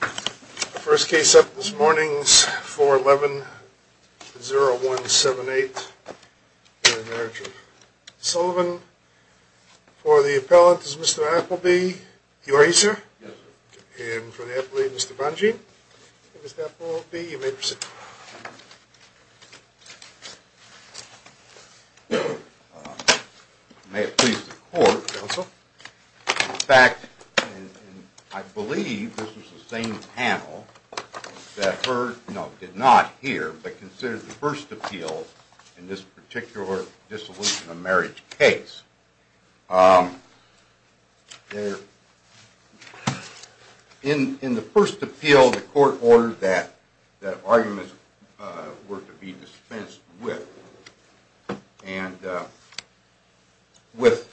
The first case up this morning is 411-0178, Marriage of Sullivan. For the appellant is Mr. Appleby. You are here, sir? Yes, sir. And for the appellate, Mr. Bongean. Mr. Appleby, you may proceed. May it please the Court, Counsel. In fact, I believe this was the same panel that heard, no, did not hear, but considered the first appeal in this particular dissolution of marriage case. In the first appeal, the Court ordered that arguments were to be dispensed with. And with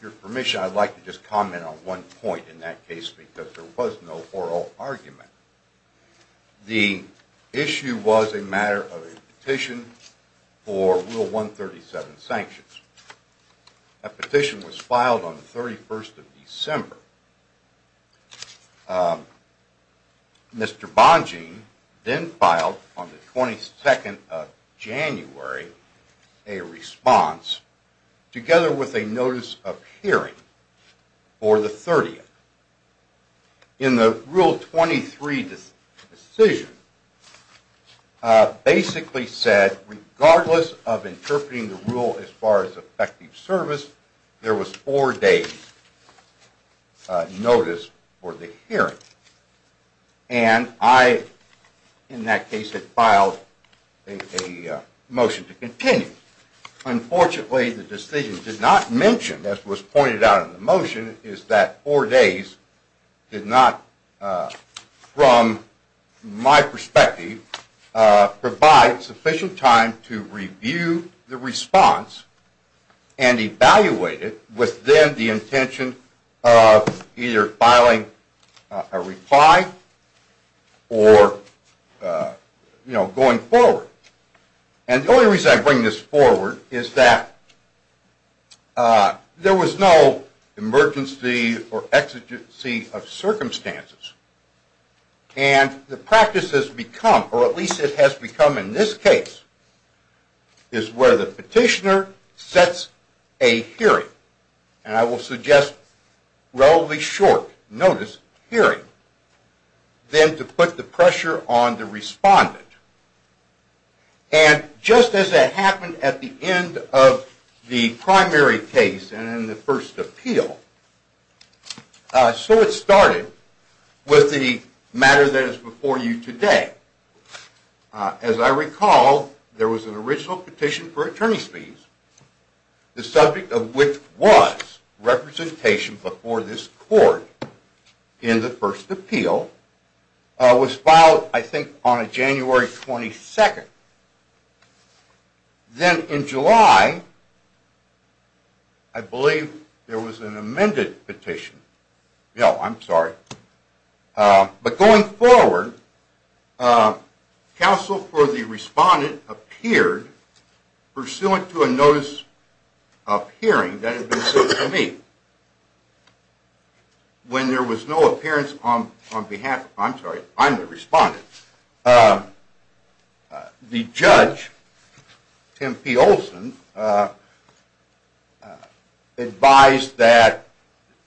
your permission, I'd like to just comment on one point in that case because there was no oral argument. The issue was a matter of a petition for Rule 137 sanctions. That petition was filed on the 31st of December. Mr. Bongean then filed on the 22nd of January a response together with a notice of hearing for the 30th. In the Rule 23 decision, basically said regardless of interpreting the rule as far as effective service, there was four days' notice for the hearing. And I, in that case, had filed a motion to continue. Unfortunately, the decision did not mention, as was pointed out in the motion, is that four days did not, from my perspective, provide sufficient time to review the response and evaluate it with then the intention of either filing a reply or going forward. And the only reason I bring this forward is that there was no emergency or exigency of circumstances. And the practice has become, or at least it has become in this case, is where the petitioner sets a hearing. And I will suggest relatively short notice hearing, then to put the pressure on the respondent. And just as that happened at the end of the primary case and in the first appeal, so it started with the matter that is before you today. As I recall, there was an original petition for attorney's fees, the subject of which was representation before this court in the first appeal. It was filed, I think, on January 22nd. Then in July, I believe, there was an amended petition. No, I'm sorry. But going forward, counsel for the respondent appeared pursuant to a notice of hearing that had been sent to me. When there was no appearance on behalf, I'm sorry, I'm the respondent, the judge, Tim P. Olson, advised that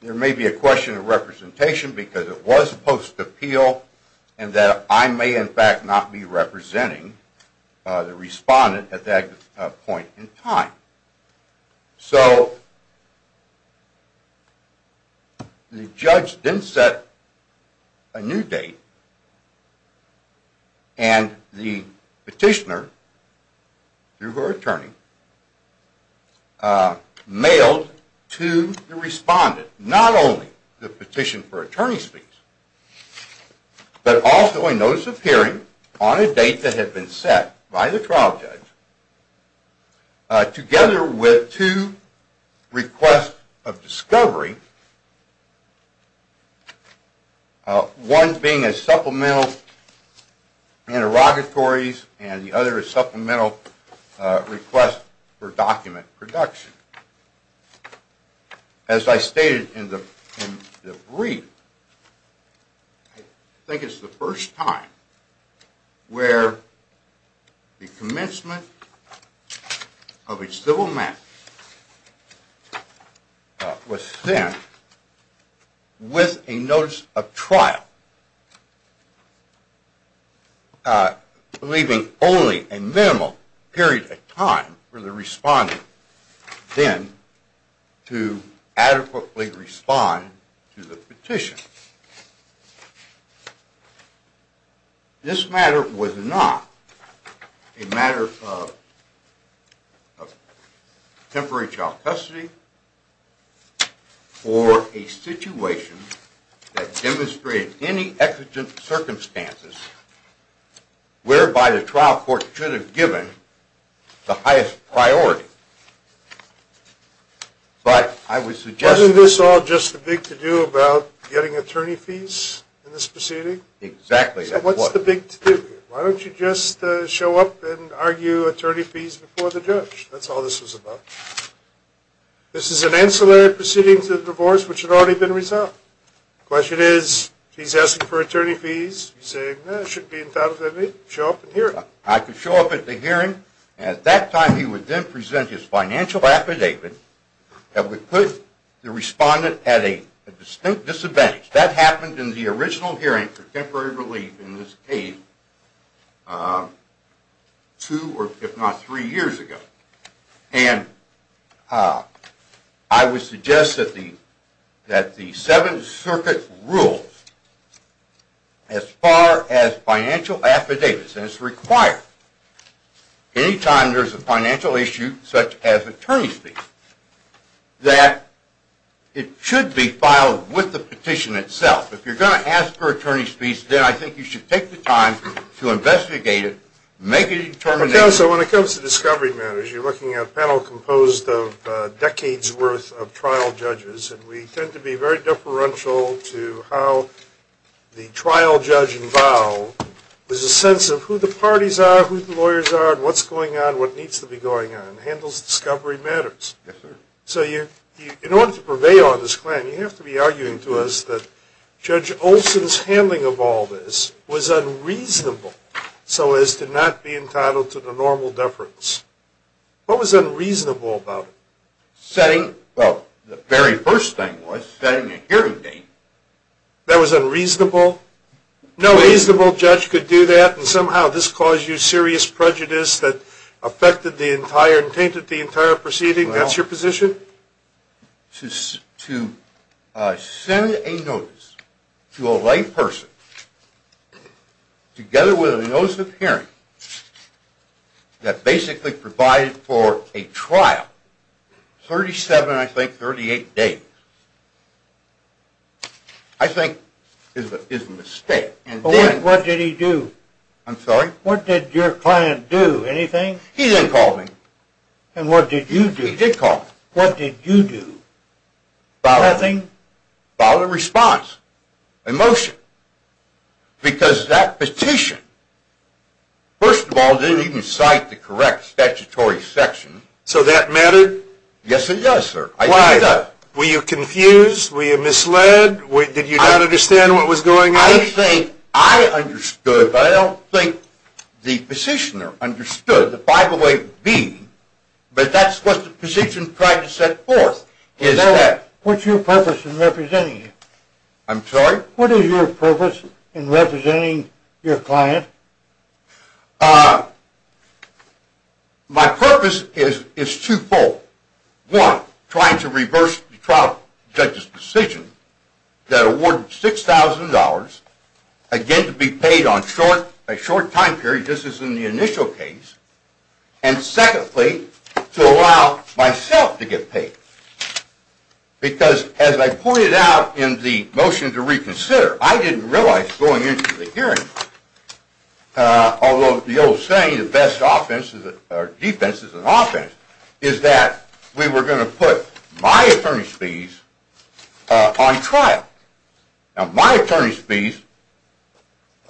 there may be a question of representation because it was post-appeal and that I may in fact not be representing the respondent at that point in time. So the judge then set a new date and the petitioner, through her attorney, mailed to the respondent not only the petition for attorney's fees, but also a notice of hearing on a date that had been set by the trial judge together with two requests of discovery, one being a supplemental interrogatories and the other a supplemental request for document production. As I stated in the brief, I think it's the first time where the commencement of a civil match was sent with a notice of trial, leaving only a minimal period of time for the respondent then to adequately respond to the petition. This matter was not a matter of temporary child custody or a situation that demonstrated any exigent circumstances whereby the trial court should have given the highest priority. Wasn't this all just a big to-do about getting attorney fees in this proceeding? Exactly. So what's the big to-do here? Why don't you just show up and argue attorney fees before the judge? That's all this was about. This is an ancillary proceeding to the divorce which had already been resolved. The question is, he's asking for attorney fees, he's saying, well, it should be entitled to be, show up and hear it. I could show up at the hearing and at that time he would then present his financial affidavit that would put the respondent at a distinct disadvantage. That happened in the original hearing for temporary relief in this case two or if not three years ago. And I would suggest that the Seventh Circuit rules as far as financial affidavits, and it's required any time there's a financial issue such as attorney fees, that it should be filed with the petition itself. If you're going to ask for attorney fees, then I think you should take the time to investigate it, make a determination. So when it comes to discovery matters, you're looking at a panel composed of decades' worth of trial judges, and we tend to be very deferential to how the trial judge involved. There's a sense of who the parties are, who the lawyers are, what's going on, what needs to be going on, handles discovery matters. So in order to prevail on this claim, you have to be arguing to us that Judge Olson's handling of all this was unreasonable so as to not be entitled to the normal deference. What was unreasonable about it? Setting, well, the very first thing was setting a hearing date. That was unreasonable? No reasonable judge could do that, and somehow this caused you serious prejudice that affected the entire, and tainted the entire proceeding? That's your position? To send a notice to a lay person, together with a notice of hearing, that basically provided for a trial, 37, I think, 38 days, I think is a mistake. What did he do? I'm sorry? What did your client do, anything? He didn't call me. And what did you do? He did call me. What did you do? Nothing. Filed a response, a motion, because that petition, first of all, didn't even cite the correct statutory section. So that mattered? Yes, it does, sir. Why though? Were you confused? Were you misled? Did you not understand what was going on? I think I understood, but I don't think the petitioner understood the 508B, but that's what the petition tried to set forth. What's your purpose in representing him? I'm sorry? What is your purpose in representing your client? My purpose is twofold. One, trying to reverse the trial judge's decision that awarded $6,000, again, to be paid on a short time period. This is in the initial case. And secondly, to allow myself to get paid. Because as I pointed out in the motion to reconsider, I didn't realize going into the hearing, although the old saying, the best defense is an offense, is that we were going to put my attorney's fees on trial. Now, my attorney's fees,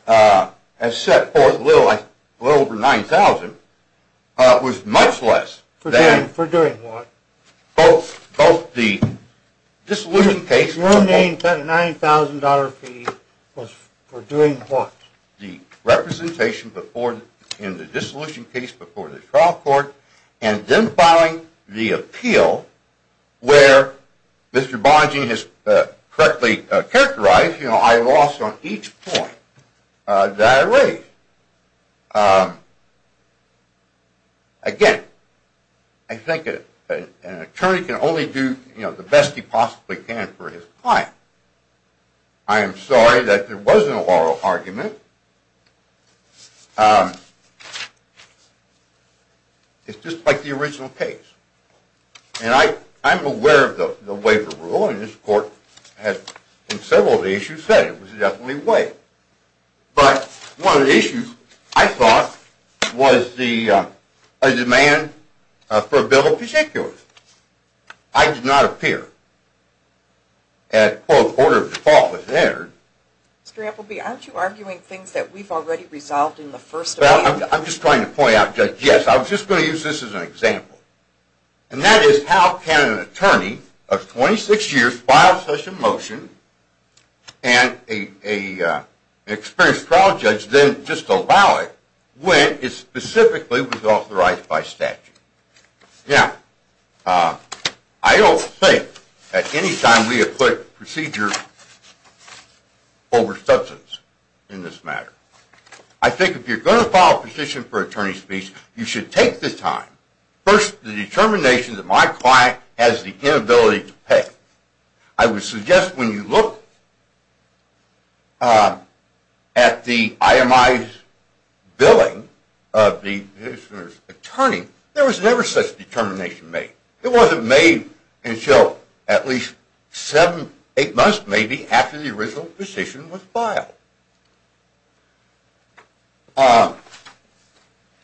as set forth, a little over $9,000, was much less than both the dissolution case… Your main $9,000 fee was for doing what? …the representation in the dissolution case before the trial court, and then filing the appeal where Mr. Bongean has correctly characterized, you know, I lost on each point that I raised. Again, I think an attorney can only do the best he possibly can for his client. I am sorry that there was an oral argument. It's just like the original case. And I'm aware of the waiver rule, and this court has in several of the issues said it was definitely waived. But one of the issues, I thought, was a demand for a bill of particulars. I did not appear at, quote, order of default that was entered. Mr. Appleby, aren't you arguing things that we've already resolved in the first appeal? Well, I'm just trying to point out, Judge, yes. I was just going to use this as an example. And that is how can an attorney of 26 years file such a motion and an experienced trial judge then just allow it when it specifically was authorized by statute? Now, I don't think at any time we have put procedure over substance in this matter. I think if you're going to file a petition for attorney's speech, you should take the time. First, the determination that my client has the inability to pay. I would suggest when you look at the IMI's billing of the attorney, there was never such determination made. It wasn't made until at least seven, eight months, maybe, after the original petition was filed.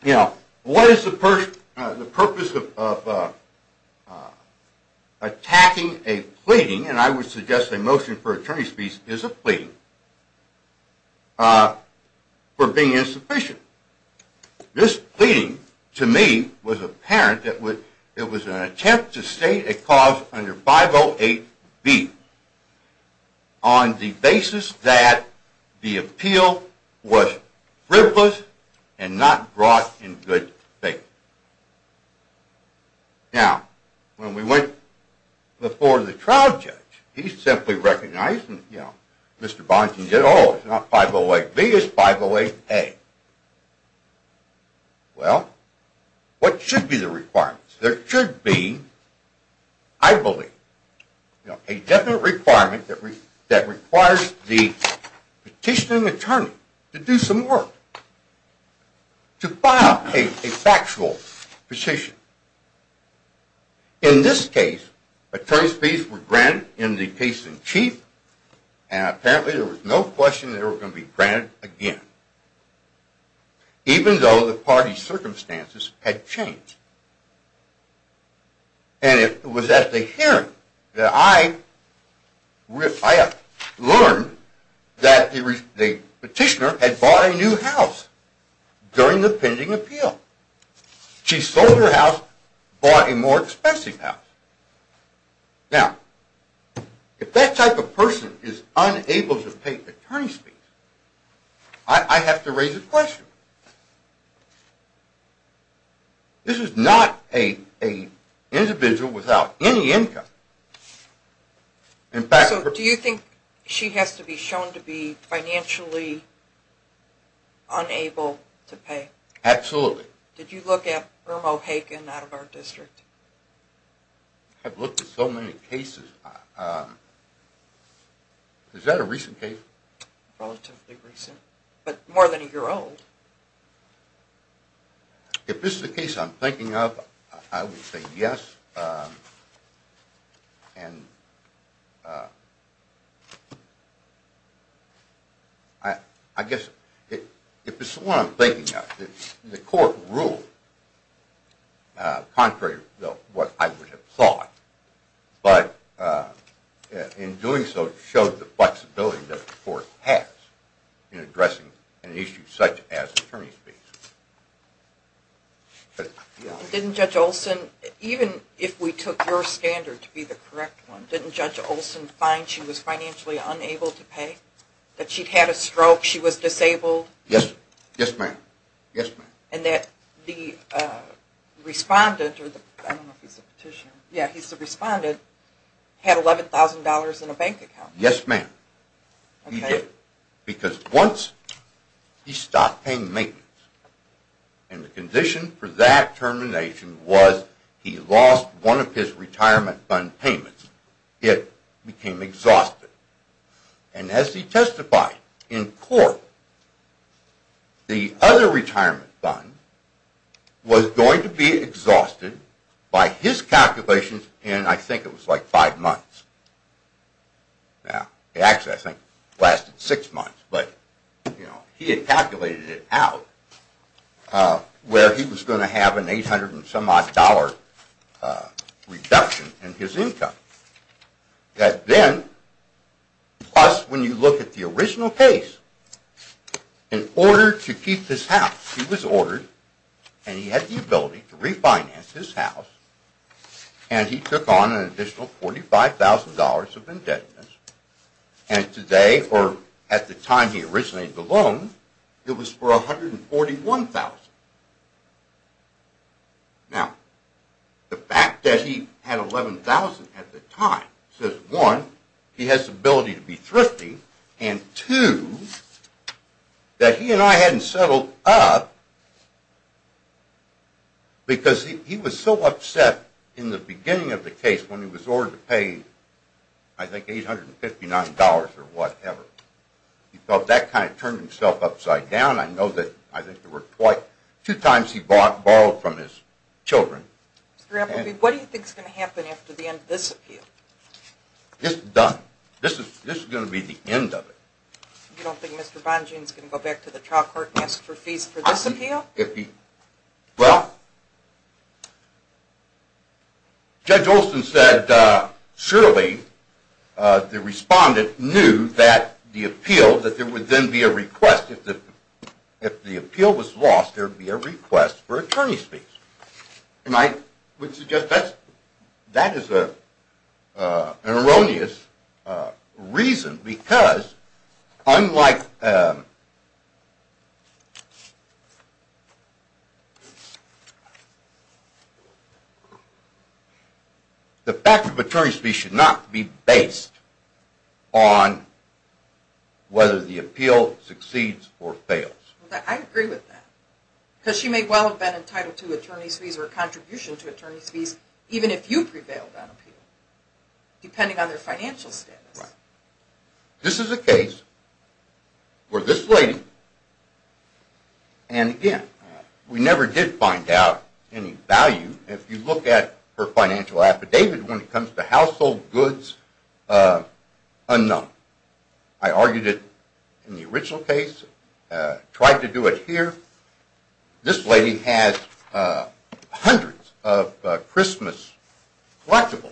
Now, what is the purpose of attacking a pleading, and I would suggest a motion for attorney's speech is a pleading, for being insufficient? This pleading, to me, was apparent. It was an attempt to state a cause under 508B on the basis that the appeal was frivolous and not brought in good faith. Now, when we went before the trial judge, he simply recognized, you know, Mr. Bonting said, oh, it's not 508B, it's 508A. Well, what should be the requirements? There should be, I believe, a definite requirement that requires the petitioning attorney to do some work, to file a factual petition. In this case, attorney's speech was granted in the case in chief, and apparently there was no question that it was going to be granted again, even though the party's circumstances had changed. And it was at the hearing that I learned that the petitioner had bought a new house during the pending appeal. She sold her house, bought a more expensive house. Now, if that type of person is unable to pay attorney's speech, I have to raise a question. This is not an individual without any income. So, do you think she has to be shown to be financially unable to pay? Absolutely. Did you look at Irma O'Hagan out of our district? I've looked at so many cases. Is that a recent case? Relatively recent, but more than a year old. If this is a case I'm thinking of, I would say yes. And I guess if this is the one I'm thinking of, the court ruled contrary to what I would have thought, but in doing so showed the flexibility that the court has in addressing an issue such as attorney's speech. Didn't Judge Olsen, even if we took your standard to be the correct one, didn't Judge Olsen find she was financially unable to pay? That she'd had a stroke, she was disabled? Yes, ma'am. And that the respondent had $11,000 in a bank account? Yes, ma'am. He did. Because once he stopped paying maintenance, and the condition for that termination was he lost one of his retirement fund payments, it became exhausted. And as he testified in court, the other retirement fund was going to be exhausted by his calculations in I think it was like five months. Actually, I think it lasted six months, but he had calculated it out where he was going to have an $800 and some odd dollar reduction in his income. That then, plus when you look at the original case, in order to keep this house, he was ordered, and he had the ability to refinance his house, and he took on an additional $45,000 of indebtedness. And today, or at the time he originated the loan, it was for $141,000. Now, the fact that he had $11,000 at the time says, one, he has the ability to be thrifty, and two, that he and I hadn't settled up because he was so upset in the beginning of the case when he was ordered to pay I think $859 or whatever. He felt that kind of turned himself upside down. I know that I think there were two times he borrowed from his children. What do you think is going to happen after the end of this appeal? This is done. This is going to be the end of it. You don't think Mr. Bonjean is going to go back to the trial court and ask for fees for this appeal? Well, Judge Olson said surely the respondent knew that the appeal, that there would then be a request. If the appeal was lost, there would be a request for attorney's fees. And I would suggest that is an erroneous reason because unlike – the fact of attorney's fees should not be based on whether the appeal succeeds or fails. I agree with that. Because she may well have been entitled to attorney's fees or a contribution to attorney's fees even if you prevailed on appeal, depending on their financial status. Right. This is a case where this lady – and again, we never did find out any value if you look at her financial affidavit when it comes to household goods unknown. I argued it in the original case, tried to do it here. This lady has hundreds of Christmas collectibles.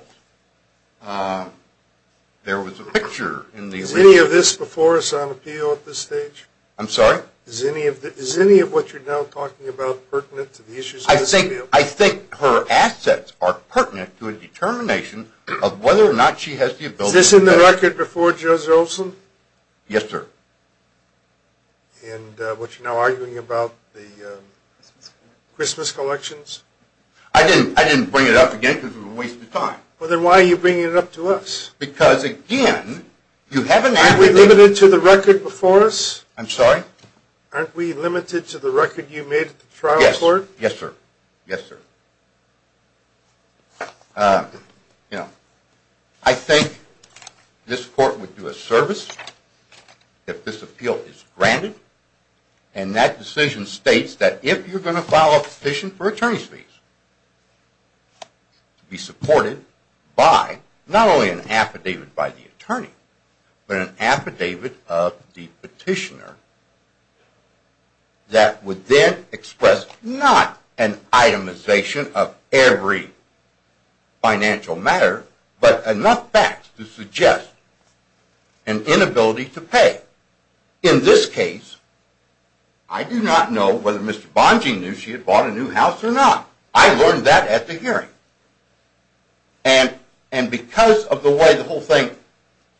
There was a picture in the – Is any of this before us on appeal at this stage? I'm sorry? Is any of what you're now talking about pertinent to the issues of this appeal? I think her assets are pertinent to a determination of whether or not she has the ability – Is this in the record before Judge Olson? Yes, sir. And what you're now arguing about, the Christmas collections? I didn't bring it up again because we're wasting time. Well, then why are you bringing it up to us? Because again, you haven't – Aren't we limited to the record before us? I'm sorry? Aren't we limited to the record you made at the trial court? Yes, sir. I think this court would do a service if this appeal is granted, and that decision states that if you're going to file a petition for attorney's fees, to be supported by not only an affidavit by the attorney, but an affidavit of the petitioner that would then express not an itemization of every financial matter, but enough facts to suggest an inability to pay. In this case, I do not know whether Mr. Bonge knew she had bought a new house or not. I learned that at the hearing. And because of the way the whole thing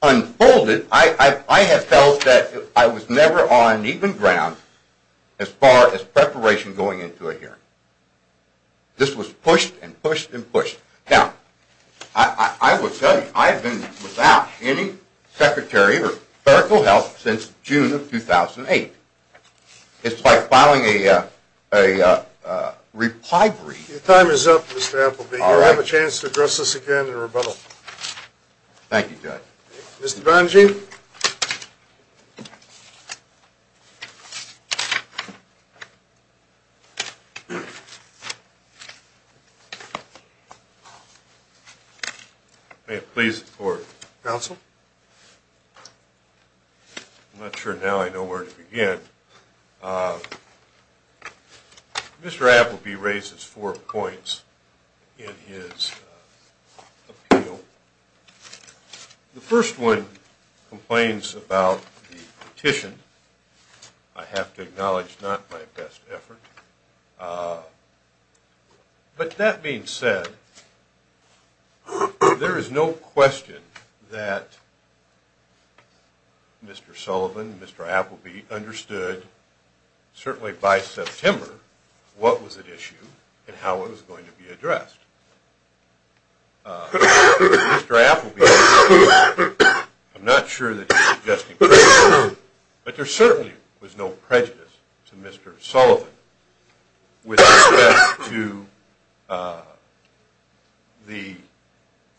unfolded, I have felt that I was never on even ground as far as preparation going into a hearing. This was pushed and pushed and pushed. Now, I will tell you, I have been without any secretary or clerical help since June of 2008. It's like filing a reply brief. Your time is up, Mr. Appleby. All right. You have a chance to address us again in rebuttal. Thank you, Judge. Mr. Bonge? May it please the Court. Counsel? I'm not sure now I know where to begin. Mr. Appleby raises four points in his appeal. The first one complains about the petition. I have to acknowledge not my best effort. But that being said, there is no question that Mr. Sullivan, Mr. Appleby understood, certainly by September, what was at issue and how it was going to be addressed. Mr. Appleby, I'm not sure that he's suggesting prejudice, but there certainly was no prejudice to Mr. Sullivan with respect to the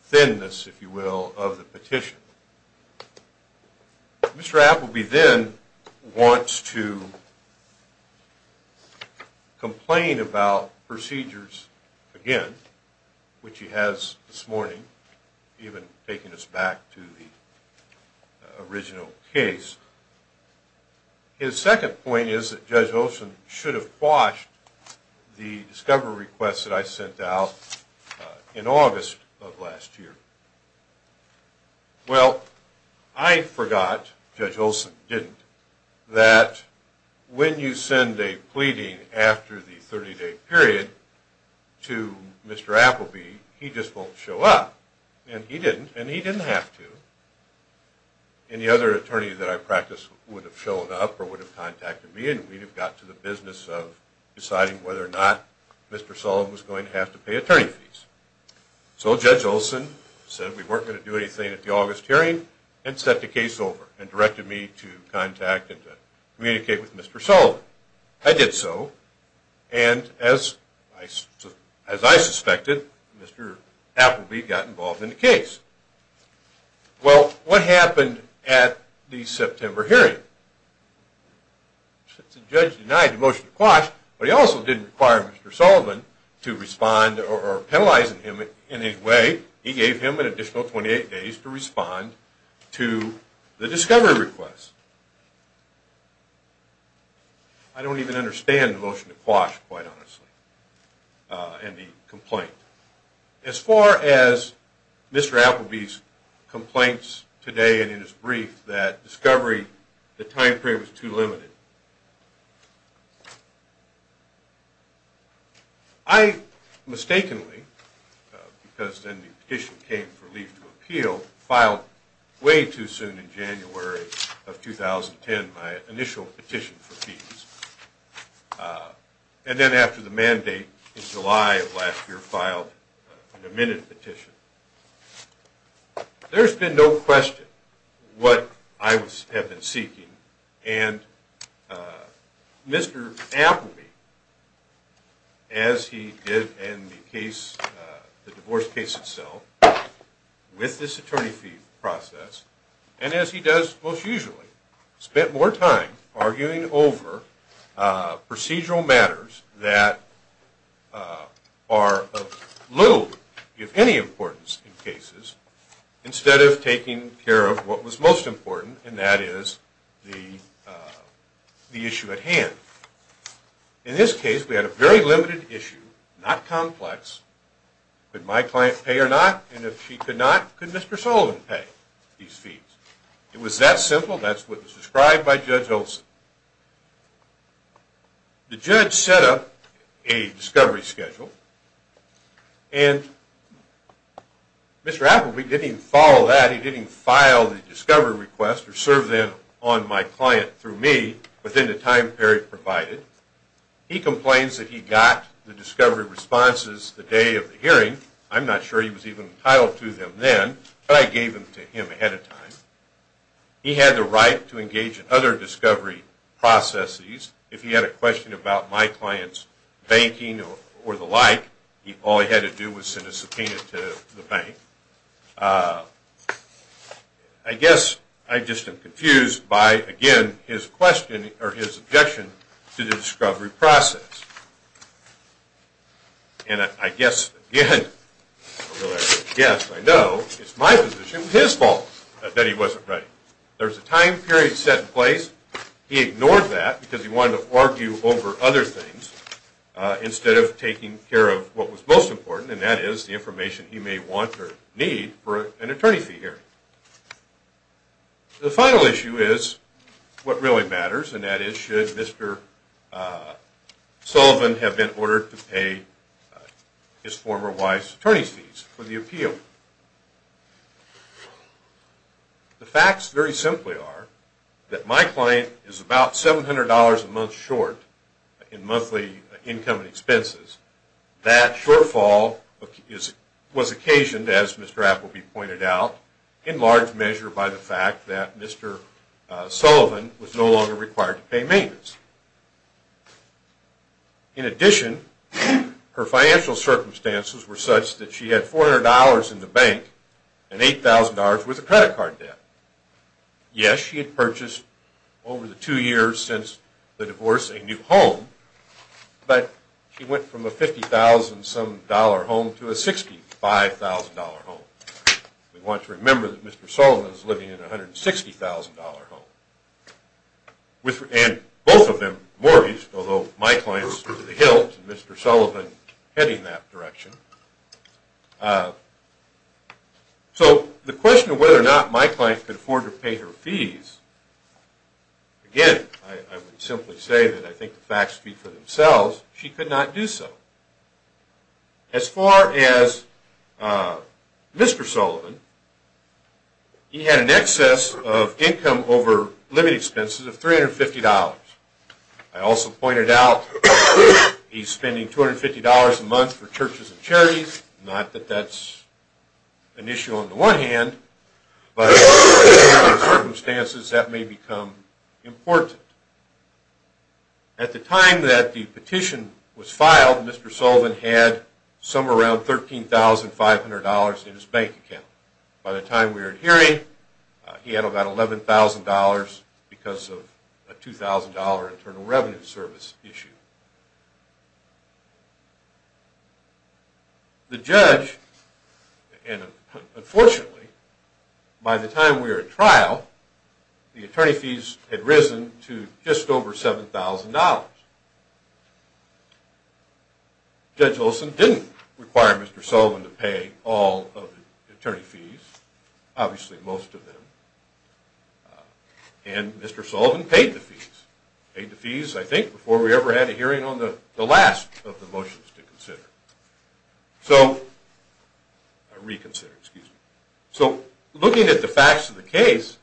thinness, if you will, of the petition. Mr. Appleby then wants to complain about procedures again, which he has this morning, even taking us back to the original case. His second point is that Judge Olson should have quashed the discovery request that I sent out in August of last year. Well, I forgot, Judge Olson didn't, that when you send a pleading after the 30-day period to Mr. Appleby, he just won't show up, and he didn't, and he didn't have to. Any other attorney that I practiced would have shown up or would have contacted me and we'd have got to the business of deciding whether or not Mr. Sullivan was going to have to pay attorney fees. So Judge Olson said we weren't going to do anything at the August hearing and set the case over and directed me to contact and to communicate with Mr. Sullivan. Well, I did so, and as I suspected, Mr. Appleby got involved in the case. Well, what happened at the September hearing? The judge denied the motion to quash, but he also didn't require Mr. Sullivan to respond or penalize him in any way. He gave him an additional 28 days to respond to the discovery request. I don't even understand the motion to quash, quite honestly, and the complaint. As far as Mr. Appleby's complaints today and in his brief that discovery, the time period was too limited. I mistakenly, because then the petition came for leave to appeal, filed way too soon in January of 2010 my initial petition for fees, and then after the mandate in July of last year filed an amended petition. There's been no question what I have been seeking, and Mr. Appleby, as he did in the case, the divorce case itself, with this attorney fee process, and as he does most usually, spent more time arguing over procedural matters that are of little, if any, importance in cases instead of taking care of what was most important, and that is the issue at hand. In this case, we had a very limited issue, not complex. Could my client pay or not, and if she could not, could Mr. Sullivan pay these fees? It was that simple. That's what was described by Judge Olson. The judge set up a discovery schedule, and Mr. Appleby didn't follow that. He didn't file the discovery request or serve them on my client through me within the time period provided. He complains that he got the discovery responses the day of the hearing. I'm not sure he was even entitled to them then, but I gave them to him ahead of time. He had the right to engage in other discovery processes. If he had a question about my client's banking or the like, all he had to do was send a subpoena to the bank. I guess I just am confused by, again, his objection to the discovery process. And I guess, again, it's my position, his fault that he wasn't ready. There was a time period set in place. He ignored that because he wanted to argue over other things instead of taking care of what was most important, and that is the information he may want or need for an attorney fee hearing. The final issue is what really matters, and that is should Mr. Sullivan have been ordered to pay his former wife's attorney fees for the appeal. The facts very simply are that my client is about $700 a month short in monthly income and expenses. That shortfall was occasioned, as Mr. Appleby pointed out, in large measure by the fact that Mr. Sullivan was no longer required to pay maintenance. In addition, her financial circumstances were such that she had $400 in the bank and $8,000 with a credit card debt. Yes, she had purchased over the two years since the divorce a new home, but she went from a $50,000 home to a $65,000 home. We want to remember that Mr. Sullivan is living in a $160,000 home, and both of them mortgaged, although my client is in the hills and Mr. Sullivan heading that direction. So the question of whether or not my client could afford to pay her fees, again, I would simply say that I think the facts speak for themselves. She could not do so. As far as Mr. Sullivan, he had an excess of income over living expenses of $350. I also pointed out he's spending $250 a month for churches and charities. Not that that's an issue on the one hand, but in certain circumstances that may become important. At the time that the petition was filed, Mr. Sullivan had somewhere around $13,500 in his bank account. By the time we were in hearing, he had about $11,000 because of a $2,000 Internal Revenue Service issue. The judge, and unfortunately, by the time we were at trial, the attorney fees had risen to just over $7,000. Judge Olson didn't require Mr. Sullivan to pay all of the attorney fees, obviously most of them. And Mr. Sullivan paid the fees. Paid the fees, I think, before we ever had a hearing on the last of the motions to consider. So, reconsider, excuse me. So, looking at the facts of the case,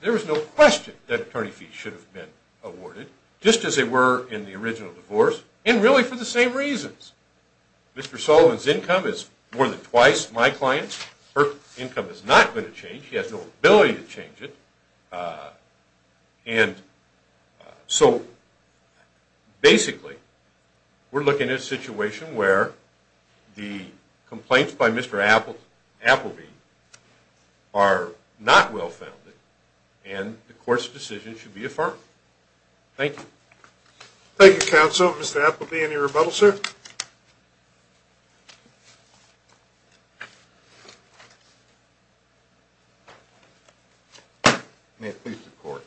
there is no question that attorney fees should have been awarded, just as they were in the original divorce, and really for the same reasons. Mr. Sullivan's income is more than twice my client's. Her income is not going to change. She has no ability to change it. And so, basically, we're looking at a situation where the complaints by Mr. Appleby are not well-founded, and the court's decision should be affirmed. Thank you. Thank you, counsel. Mr. Appleby, any rebuttal, sir? Thank you. May it please the court.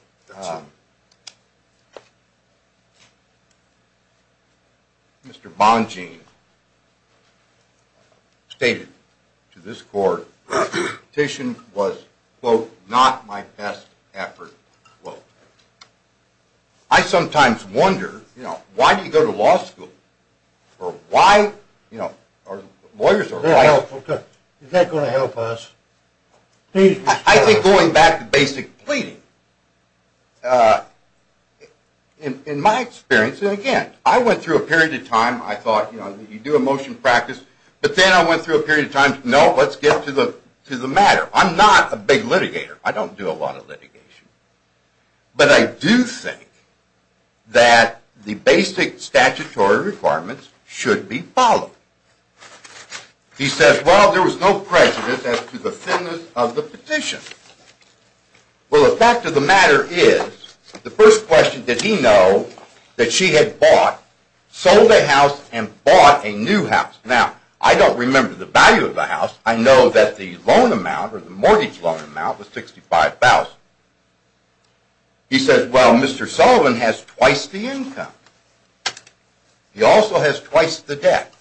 Mr. Bongean stated to this court that the petition was, quote, not my best effort, quote. I sometimes wonder, you know, why do you go to law school? Or why, you know, lawyers are quite... Is that going to help us? I think going back to basic pleading, in my experience, and again, I went through a period of time, I thought, you know, you do a motion practice, but then I went through a period of time, no, let's get to the matter. I'm not a big litigator. I don't do a lot of litigation. But I do think that the basic statutory requirements should be followed. He says, well, there was no prejudice as to the thinness of the petition. Well, the fact of the matter is, the first question, did he know that she had bought, sold a house, and bought a new house? Now, I don't remember the value of the house. I know that the loan amount or the mortgage loan amount was $65,000. He says, well, Mr. Sullivan has twice the income. He also has twice the debt.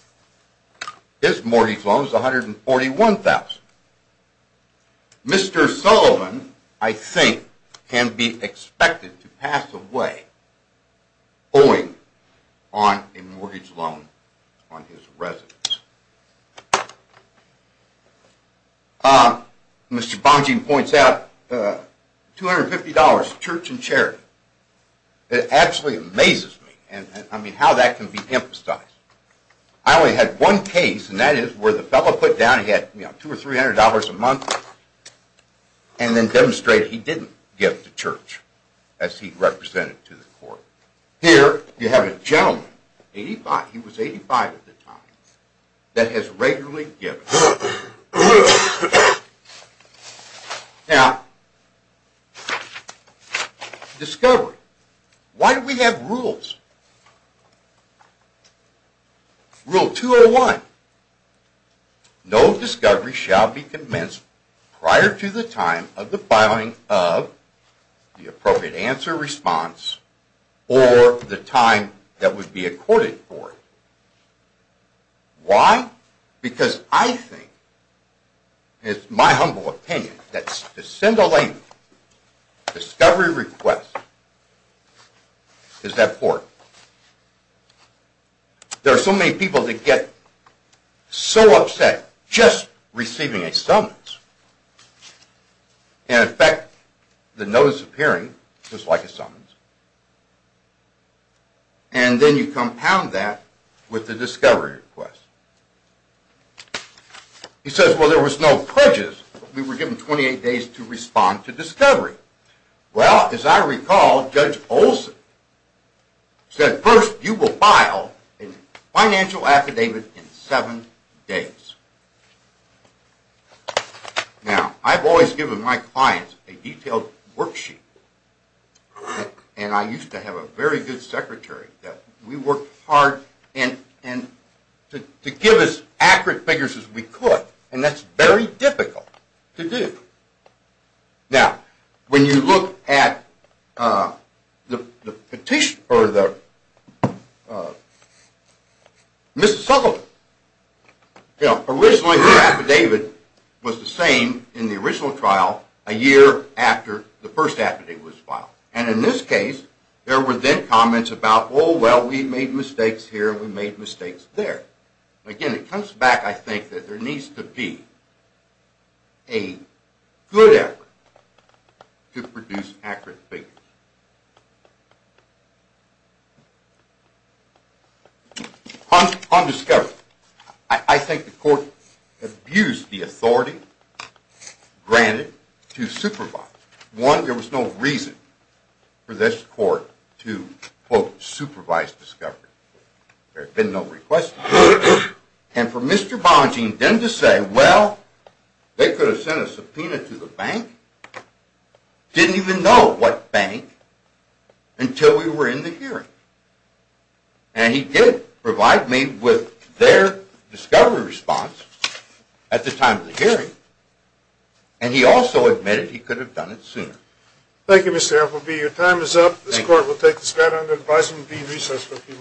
His mortgage loan is $141,000. Mr. Sullivan, I think, can be expected to pass away owing on a mortgage loan on his residence. Mr. Bongean points out, $250, church and charity. It absolutely amazes me, I mean, how that can be emphasized. I only had one case, and that is where the fellow put down he had $200 or $300 a month, and then demonstrated he didn't give to church, as he represented to the court. Here, you have a gentleman, he was 85 at the time, that has regularly given. Now, discovery. Why do we have rules? Rule 201, no discovery shall be commenced prior to the time of the filing of the appropriate answer response or the time that would be accorded for it. Why? Because I think, it's my humble opinion, that to send a lady a discovery request is that poor. There are so many people that get so upset just receiving a summons, and in fact, the notice of hearing was like a summons. And then you compound that with the discovery request. He says, well, there was no pledges, we were given 28 days to respond to discovery. Well, as I recall, Judge Olson said, first, you will file a financial affidavit in seven days. Now, I've always given my clients a detailed worksheet, and I used to have a very good secretary that we worked hard to give as accurate figures as we could, and that's very difficult to do. Now, when you look at the petition, or the, Mr. Sutherland, you know, originally, their affidavit was the same in the original trial, a year after the first affidavit was filed. And in this case, there were then comments about, oh, well, we made mistakes here, we made mistakes there. Again, it comes back, I think, that there needs to be a good effort to produce accurate figures. On discovery, I think the court abused the authority granted to supervise. One, there was no reason for this court to, quote, supervise discovery. There had been no request for it. And for Mr. Bongean then to say, well, they could have sent a subpoena to the bank, didn't even know what bank, until we were in the hearing. And he did provide me with their discovery response at the time of the hearing, and he also admitted he could have done it sooner. Thank you, Mr. Appleby. Your time is up. This court will take this matter under advisement and be in recess for a few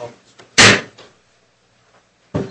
moments.